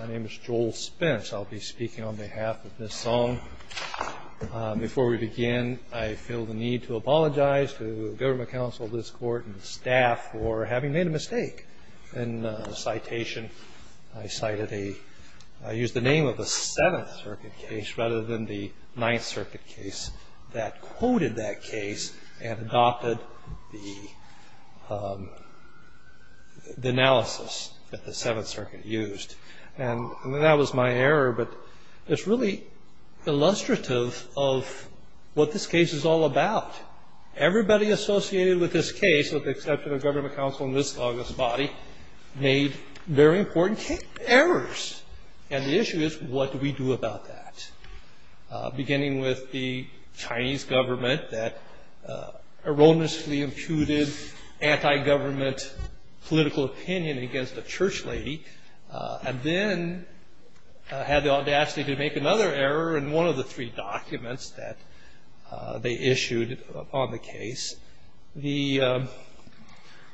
My name is Joel Spence. I'll be speaking on behalf of Ms. Song. Before we begin, I feel the need to apologize to the Government Council, this Court, and the staff for having made a mistake in the citation. I cited a – I used the name of a Seventh Circuit case rather than the Ninth Circuit case that quoted that case and adopted the analysis that the Seventh Circuit used. And that was my error, but it's really illustrative of what this case is all about. Everybody associated with this case, with the exception of Government Council and Ms. Song's body, made very important errors. And the issue is, what do we do about that? Beginning with the Chinese government that erroneously imputed anti-government political opinion against a church lady, and then had the audacity to make another error in one of the three documents that they issued upon the case. The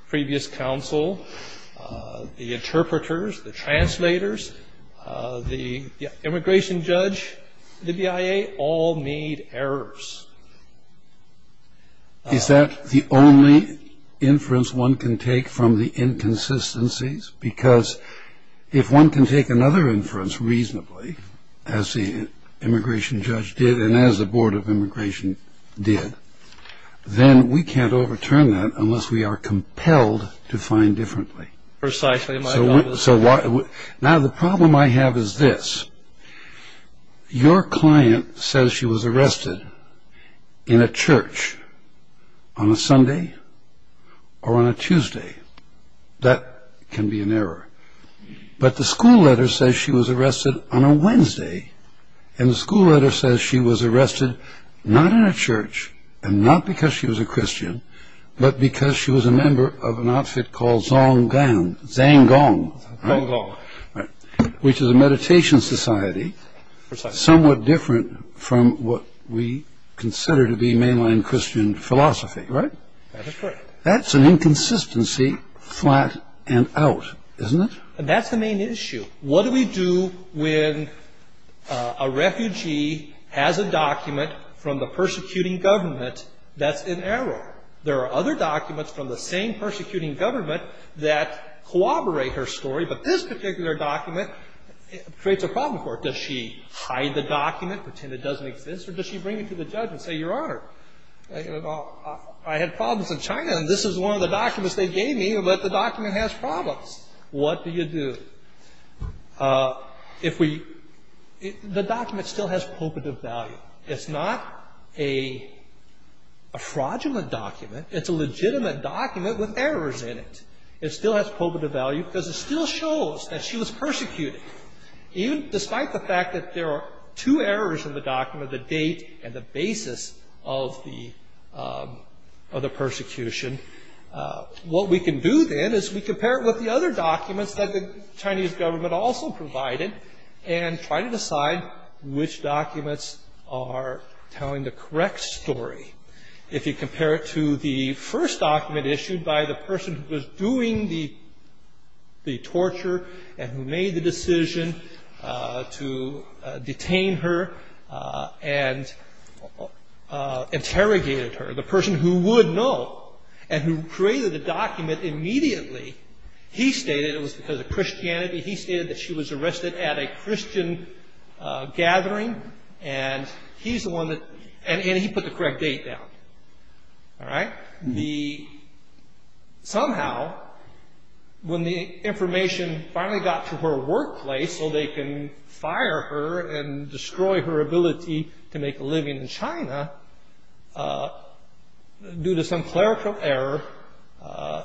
previous counsel, the interpreters, the translators, the immigration judge, the BIA, all made errors. Is that the only inference one can take from the inconsistencies? Because if one can take another inference reasonably, as the immigration judge did and as the Board of Immigration did, then we can't overturn that unless we are compelled to find differently. Precisely. Now the problem I have is this. Your client says she was arrested in a church on a Sunday or on a Tuesday. That can be an error. But the school letter says she was arrested on a Wednesday, and the school letter says she was arrested not in a church and not because she was a Christian, but because she was a member of an outfit called Zonggang, which is a meditation society, somewhat different from what we consider to be mainline Christian philosophy, right? That's correct. That's an inconsistency flat and out, isn't it? That's the main issue. What do we do when a refugee has a document from the persecuting government that's an error? There are other documents from the same persecuting government that corroborate her story, but this particular document creates a problem for her. Does she hide the document, pretend it doesn't exist, or does she bring it to the judge and say, Your Honor, I had problems in China, and this is one of the documents they gave me, but the document has problems. What do you do? The document still has pulpit of value. It's not a fraudulent document. It's a legitimate document with errors in it. It still has pulpit of value because it still shows that she was persecuted, even despite the fact that there are two errors in the document, the date and the basis of the persecution. What we can do then is we compare it with the other documents that the Chinese government also provided and try to decide which documents are telling the correct story. If you compare it to the first document issued by the person who was doing the torture and who made the decision to detain her and interrogated her, the person who would know and who created the document immediately, he stated it was because of Christianity, he stated that she was arrested at a Christian gathering, and he put the correct date down. Somehow, when the information finally got to her workplace so they can fire her and destroy her ability to make a living in China, due to some clerical error,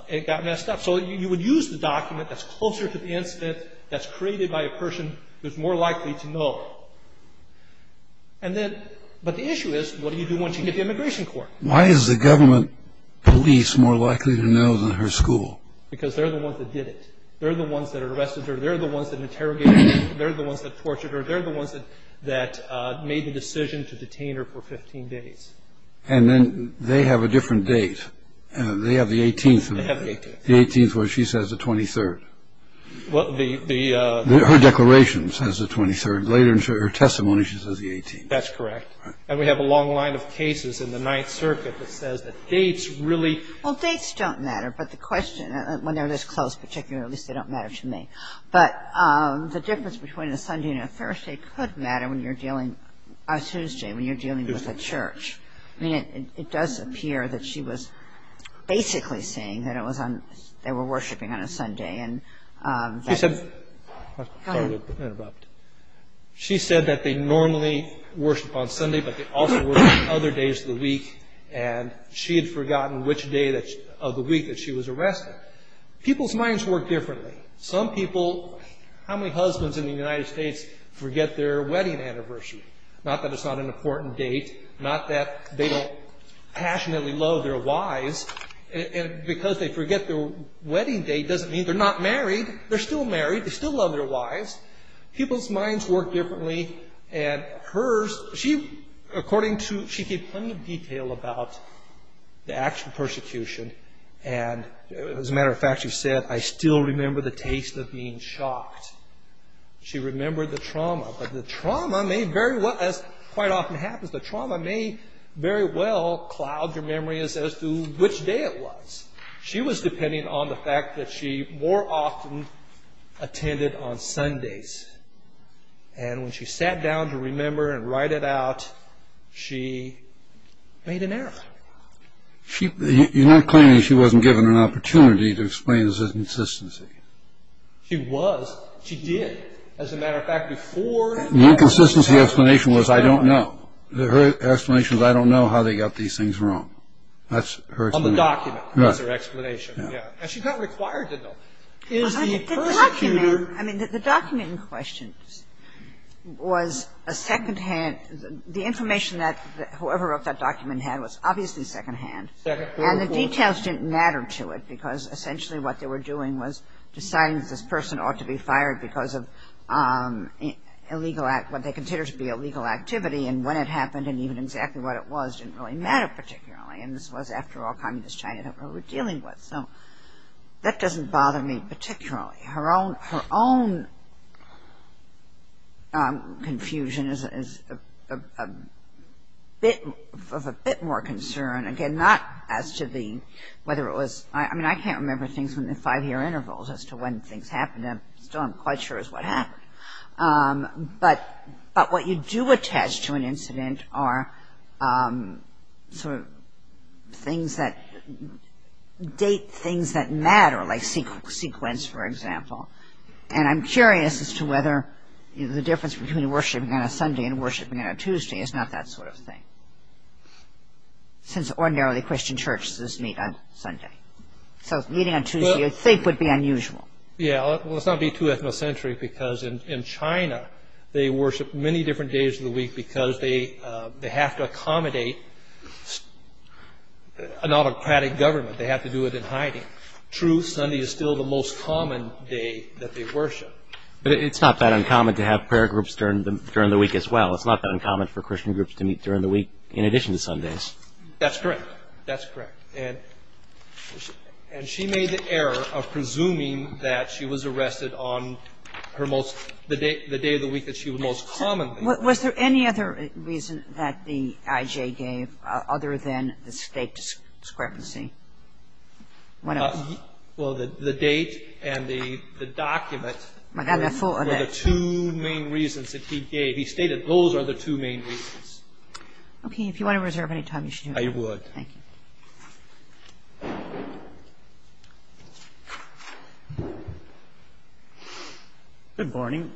it got messed up. So you would use the document that's closer to the incident, that's created by a person who's more likely to know. But the issue is, what do you do once you get to immigration court? Why is the government police more likely to know than her school? Because they're the ones that did it. They're the ones that arrested her. They're the ones that interrogated her. They're the ones that tortured her. They're the ones that made the decision to detain her for 15 days. And then they have a different date. They have the 18th. They have the 18th. The 18th where she says the 23rd. Her declaration says the 23rd. Later in her testimony, she says the 18th. That's correct. And we have a long line of cases in the Ninth Circuit that says that dates really Well, dates don't matter, but the question, when they're this close, particularly, at least they don't matter to me. But the difference between a Sunday and a Thursday could matter when you're dealing, a Tuesday, when you're dealing with a church. I mean, it does appear that she was basically saying that it was on, they were worshiping on a Sunday. She said that they normally worship on Sunday, but they also worship on other days of the week. And she had forgotten which day of the week that she was arrested. People's minds work differently. Some people, how many husbands in the United States forget their wedding anniversary? Not that it's not an important date. Not that they don't passionately love their wives. And because they forget their wedding date doesn't mean they're not married. They're still married. They still love their wives. People's minds work differently. And hers, she, according to, she gave plenty of detail about the actual persecution. And as a matter of fact, she said, I still remember the taste of being shocked. She remembered the trauma. But the trauma may very well, as quite often happens, the trauma may very well cloud your memory as to which day it was. She was depending on the fact that she more often attended on Sundays. And when she sat down to remember and write it out, she made an error. You're not claiming she wasn't given an opportunity to explain her inconsistency. She was. She did. As a matter of fact, before The inconsistency explanation was, I don't know. Her explanation was, I don't know how they got these things wrong. That's her explanation. On the document was her explanation. And she got required to know. The document in question was a second-hand, the information that whoever wrote that document had was obviously second-hand. And the details didn't matter to it, because essentially what they were doing was deciding that this person ought to be fired because of illegal, what they considered to be illegal activity. And when it happened and even exactly what it was didn't really matter particularly. And this was, after all, communist China that we were dealing with. So that doesn't bother me particularly. Her own confusion is of a bit more concern. Again, not as to the, whether it was, I mean, I can't remember things within five-year intervals as to when things happened. I'm still not quite sure as to what happened. But what you do attach to an incident are sort of things that date things that matter, like sequence, for example. And I'm curious as to whether the difference between worshipping on a Sunday and worshipping on a Tuesday is not that sort of thing, since ordinarily Christian churches meet on Sunday. So meeting on Tuesday, you'd think, would be unusual. Yeah. Well, let's not be too ethnocentric because in China they worship many different days of the week because they have to accommodate an autocratic government. They have to do it in hiding. True, Sunday is still the most common day that they worship. But it's not that uncommon to have prayer groups during the week as well. It's not that uncommon for Christian groups to meet during the week in addition to Sundays. That's correct. That's correct. And she made the error of presuming that she was arrested on her most – the day of the week that she would most commonly – Was there any other reason that the IJ gave other than the state discrepancy? Well, the date and the document were the two main reasons that he gave. He stated those are the two main reasons. Okay. If you want to reserve any time, you should do that. I would. Thank you. Good morning.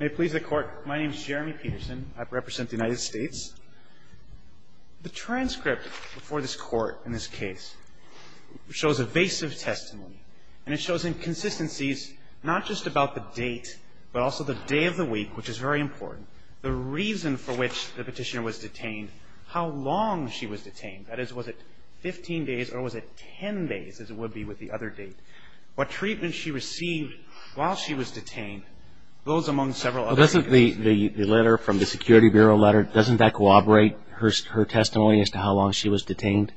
May it please the Court, my name is Jeremy Peterson. I represent the United States. The transcript before this Court in this case shows evasive testimony. And it shows inconsistencies not just about the date but also the day of the week, which is very important. That is, was it 15 days or was it 10 days as it would be with the other date? What treatment she received while she was detained goes among several other things. Well, doesn't the letter from the Security Bureau letter, doesn't that corroborate her testimony as to how long she was detained?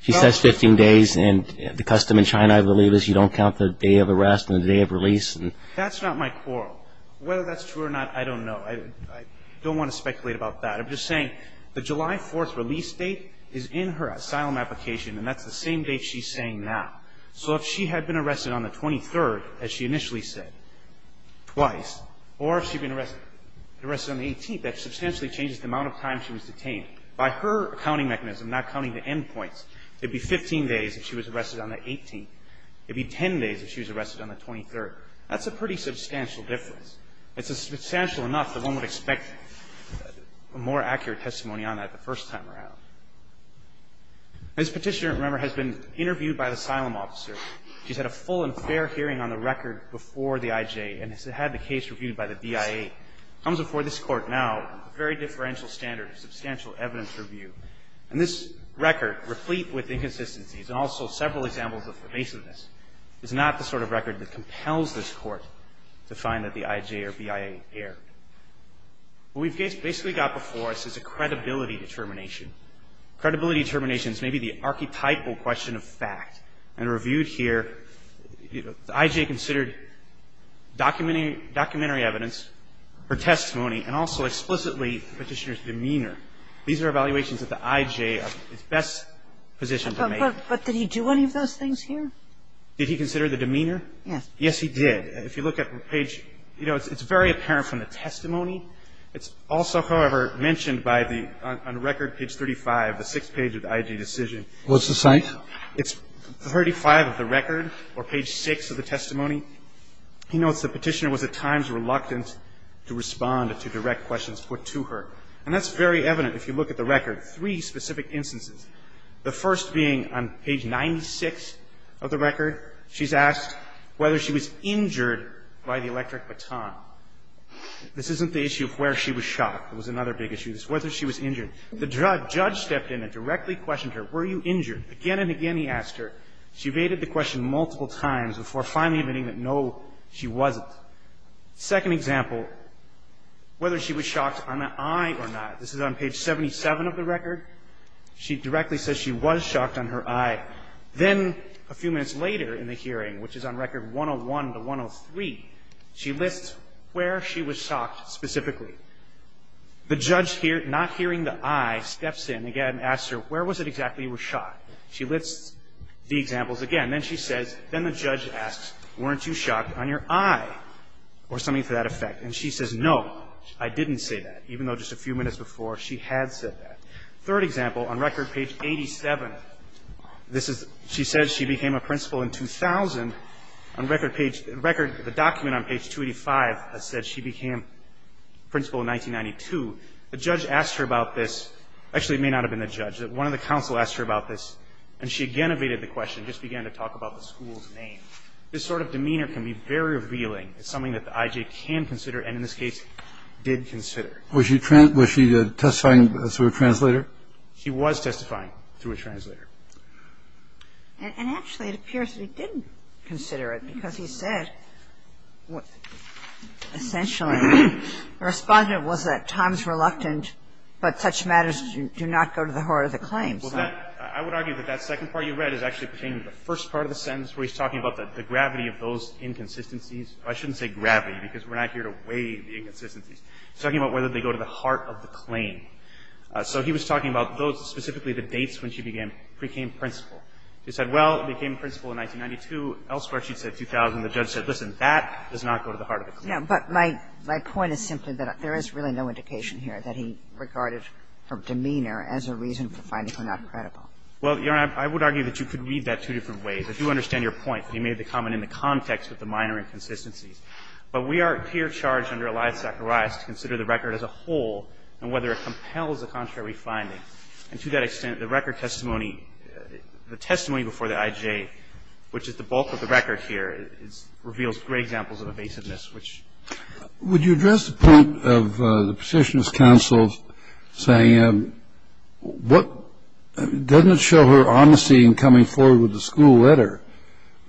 She says 15 days, and the custom in China, I believe, is you don't count the day of arrest and the day of release. That's not my quarrel. Whether that's true or not, I don't know. I don't want to speculate about that. I'm just saying the July 4th release date is in her asylum application, and that's the same date she's saying now. So if she had been arrested on the 23rd, as she initially said, twice, or if she had been arrested on the 18th, that substantially changes the amount of time she was detained. By her counting mechanism, not counting the end points, it would be 15 days if she was arrested on the 18th. It would be 10 days if she was arrested on the 23rd. That's a pretty substantial difference. It's substantial enough that one would expect a more accurate testimony on that the first time around. This Petitioner, remember, has been interviewed by the asylum officer. She's had a full and fair hearing on the record before the IJ, and has had the case reviewed by the BIA. It comes before this Court now, a very differential standard, a substantial evidence review. And this record, replete with inconsistencies, and also several examples of evasiveness, is not the sort of record that compels this Court to find that the IJ or BIA erred. What we've basically got before us is a credibility determination. Credibility determination is maybe the archetypal question of fact. And reviewed here, the IJ considered documentary evidence, her testimony, and also explicitly the Petitioner's demeanor. These are evaluations that the IJ is best positioned to make. But did he do any of those things here? Did he consider the demeanor? Yes. Yes, he did. If you look at page – you know, it's very apparent from the testimony. It's also, however, mentioned by the – on record, page 35, the sixth page of the IJ decision. What's the site? It's 35 of the record, or page 6 of the testimony. He notes the Petitioner was at times reluctant to respond to direct questions put to her. And that's very evident if you look at the record. Three specific instances. The first being on page 96 of the record. She's asked whether she was injured by the electric baton. This isn't the issue of where she was shocked. It was another big issue. It's whether she was injured. The judge stepped in and directly questioned her. Were you injured? Again and again he asked her. She evaded the question multiple times before finally admitting that, no, she wasn't. Second example, whether she was shocked on the eye or not. This is on page 77 of the record. She directly says she was shocked on her eye. Then a few minutes later in the hearing, which is on record 101 to 103, she lists where she was shocked specifically. The judge, not hearing the eye, steps in again and asks her, where was it exactly you were shocked? She lists the examples again. Then she says – then the judge asks, weren't you shocked on your eye or something to that effect? And she says, no, I didn't say that, even though just a few minutes before she had said that. Third example, on record page 87, this is – she says she became a principal in 2000. On record page – record – the document on page 285 has said she became principal in 1992. The judge asked her about this. Actually, it may not have been the judge. One of the counsel asked her about this, and she again evaded the question, just began to talk about the school's name. This sort of demeanor can be very revealing. It's something that the IJ can consider and, in this case, did consider. Was she – was she testifying through a translator? She was testifying through a translator. And actually, it appears that he didn't consider it, because he said essentially the response was that time is reluctant, but such matters do not go to the heart of the claim. Well, that – I would argue that that second part you read is actually pertaining to the first part of the sentence where he's talking about the gravity of those inconsistencies. I shouldn't say gravity, because we're not here to weigh the inconsistencies. He's talking about whether they go to the heart of the claim. So he was talking about those, specifically the dates when she became principal. She said, well, became principal in 1992. Elsewhere, she'd say 2000. The judge said, listen, that does not go to the heart of the claim. But my point is simply that there is really no indication here that he regarded her demeanor as a reason for finding her not credible. Well, Your Honor, I would argue that you could read that two different ways. I do understand your point that he made the comment in the context of the minor inconsistencies. But we are here charged under Elias Zacharias to consider the record as a whole and whether it compels a contrary finding. And to that extent, the record testimony, the testimony before the IJ, which is the bulk of the record here, reveals great examples of evasiveness, which – Would you address the point of the Petitioner's counsel saying what – doesn't it show her honesty in coming forward with the school letter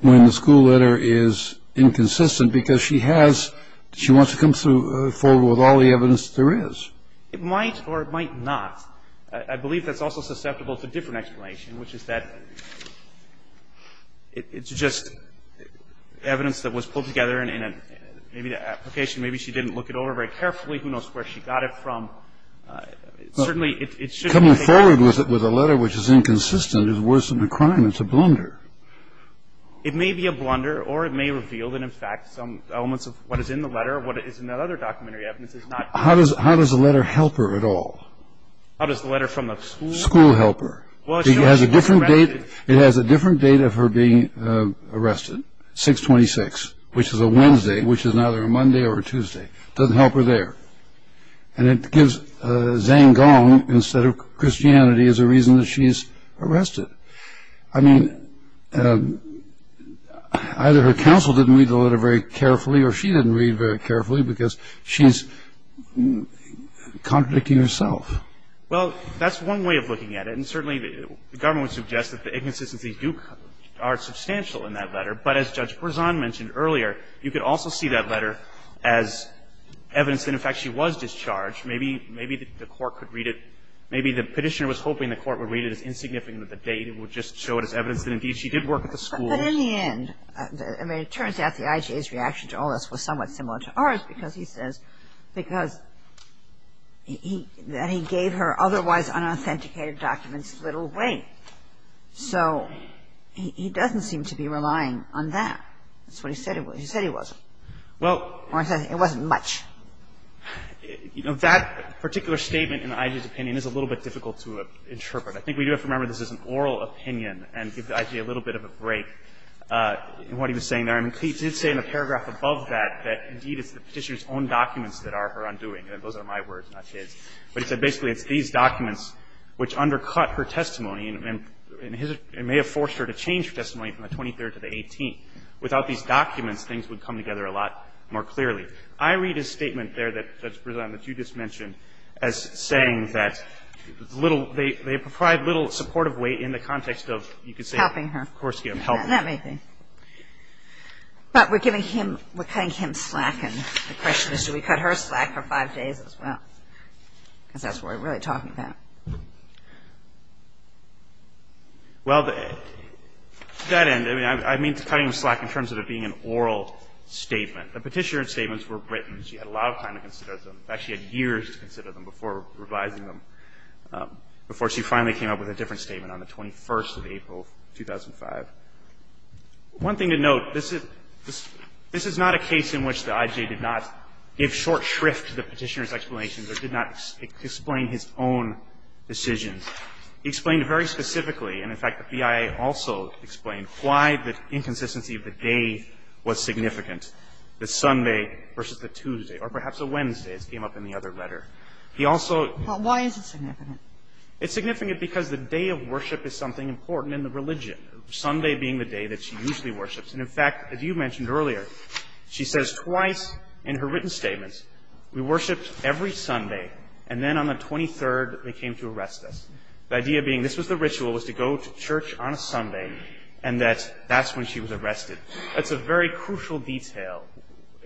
when the school letter is inconsistent because she has – she wants to come forward with all the evidence that there is? It might or it might not. I believe that's also susceptible to a different explanation, which is that it's just evidence that was pulled together in a – maybe the application, maybe she didn't look it over very carefully. Who knows where she got it from? Certainly, it's just that they have – Well, coming forward with a letter which is inconsistent is worse than a crime. It's a blunder. It may be a blunder or it may reveal that, in fact, some elements of what is in the letter, what is in that other documentary evidence, is not – How does the letter help her at all? How does the letter from the school – School help her. Well, it shows – It has a different date – it has a different date of her being arrested, 6-26, which is a Wednesday, which is neither a Monday or a Tuesday. It doesn't help her there. And it gives Zhang Gong, instead of Christianity, as a reason that she is arrested. I mean, either her counsel didn't read the letter very carefully or she didn't read very carefully because she's contradicting herself. Well, that's one way of looking at it. And certainly, the government would suggest that the inconsistencies do – are substantial in that letter. But as Judge Berzon mentioned earlier, you could also see that letter as evidence that, in fact, she was discharged. Maybe – maybe the court could read it – maybe the Petitioner was hoping the court would read it as insignificant of a date. It would just show it as evidence that, indeed, she did work at the school. But in the end – I mean, it turns out the IJA's reaction to all this was somewhat similar to ours because he says – because he – that he gave her otherwise unauthenticated documents little weight. So he doesn't seem to be relying on that. That's what he said. He said he wasn't. Well – Or he said it wasn't much. You know, that particular statement in the IJA's opinion is a little bit difficult to interpret. I think we do have to remember this is an oral opinion and give the IJA a little bit of a break in what he was saying there. I mean, he did say in a paragraph above that that, indeed, it's the Petitioner's own documents that are her undoing. Those are my words, not his. But he said basically it's these documents which undercut her testimony and may have forced her to change her testimony from the 23rd to the 18th. Without these documents, things would come together a lot more clearly. I read his statement there that you just mentioned as saying that little – they provide little supportive weight in the context of, you could say – Helping her. Of course, yes. Helping her. That may be. But we're giving him – we're cutting him slack, and the question is do we cut her slack for five days as well? Because that's what we're really talking about. Well, to that end, I mean, I mean cutting him slack in terms of it being an oral statement. The Petitioner's statements were written. She had a lot of time to consider them. In fact, she had years to consider them before revising them, before she finally came up with a different statement on the 21st of April, 2005. One thing to note, this is – this is not a case in which the IJ did not give short shrift to the Petitioner's explanations or did not explain his own decisions. He explained very specifically, and in fact the BIA also explained, why the inconsistency of the day was significant. The Sunday versus the Tuesday, or perhaps a Wednesday, as came up in the other letter. He also – But why is it significant? It's significant because the day of worship is something important in the religion, Sunday being the day that she usually worships. And in fact, as you mentioned earlier, she says twice in her written statements, we worshiped every Sunday, and then on the 23rd they came to arrest us. The idea being this was the ritual, was to go to church on a Sunday, and that that's when she was arrested. That's a very crucial detail,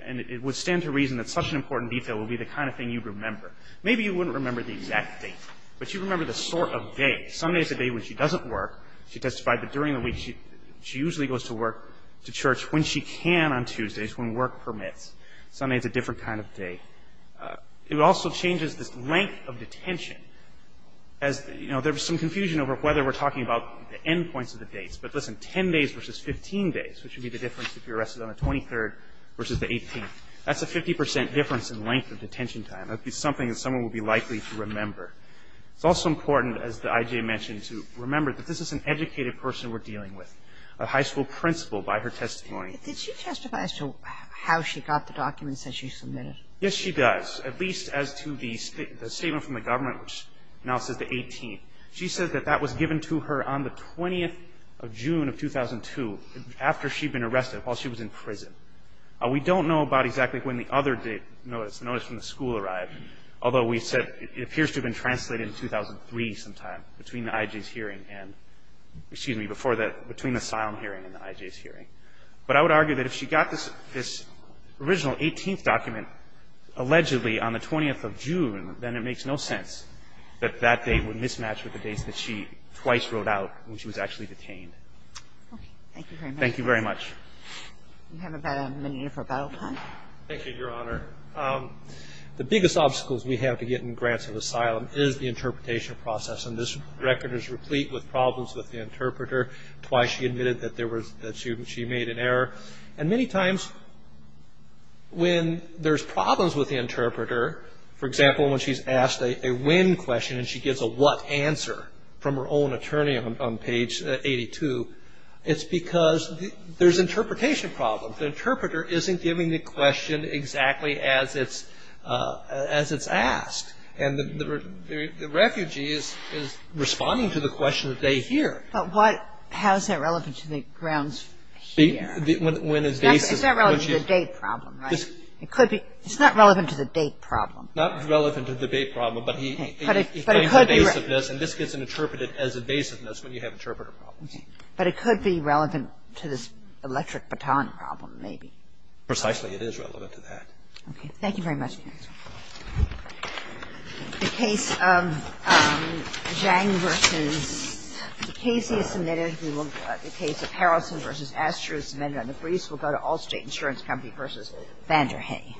and it would stand to reason that such an important detail would be the kind of thing you'd remember. Maybe you wouldn't remember the exact date, but you'd remember the sort of day. Sunday is the day when she doesn't work, she testified, but during the week she usually goes to work, to church, when she can on Tuesdays, when work permits. Sunday is a different kind of day. It also changes this length of detention. As – you know, there was some confusion over whether we're talking about the end days, which would be the difference if you're arrested on the 23rd versus the 18th. That's a 50 percent difference in length of detention time. That would be something that someone would be likely to remember. It's also important, as the I.J. mentioned, to remember that this is an educated person we're dealing with, a high school principal by her testimony. Did she testify as to how she got the documents that she submitted? Yes, she does, at least as to the statement from the government, which now says the 18th. She says that that was given to her on the 20th of June of 2002, after she'd been arrested, while she was in prison. We don't know about exactly when the other notice from the school arrived, although we said it appears to have been translated in 2003 sometime, between the I.J.'s hearing and – excuse me, before the – between the asylum hearing and the I.J.'s hearing. But I would argue that if she got this original 18th document allegedly on the 20th of June, then it makes no sense that that date would mismatch with the dates that she twice wrote out when she was actually detained. Okay. Thank you very much. Thank you very much. We have about a minute here for a bow. Thank you, Your Honor. The biggest obstacles we have to getting grants of asylum is the interpretation process, and this record is replete with problems with the interpreter. Twice she admitted that there was – that she made an error. And many times when there's problems with the interpreter, for example, when she's asked a when question and she gives a what answer from her own attorney on page 82, it's because there's interpretation problems. The interpreter isn't giving the question exactly as it's asked. And the refugee is responding to the question that they hear. But what – how is that relevant to the grounds here? When his basis – It's not relevant to the date problem, right? It could be – it's not relevant to the date problem. Not relevant to the date problem, but he – But it could be relevant. And this gets interpreted as evasiveness when you have interpreter problems. But it could be relevant to this electric baton problem, maybe. Precisely. It is relevant to that. Okay. Thank you very much, counsel. The case of Zhang versus – the case he has submitted, the case of Harrelson versus Astro is submitted on the briefs. We'll go to Allstate Insurance Company versus Vanderhay.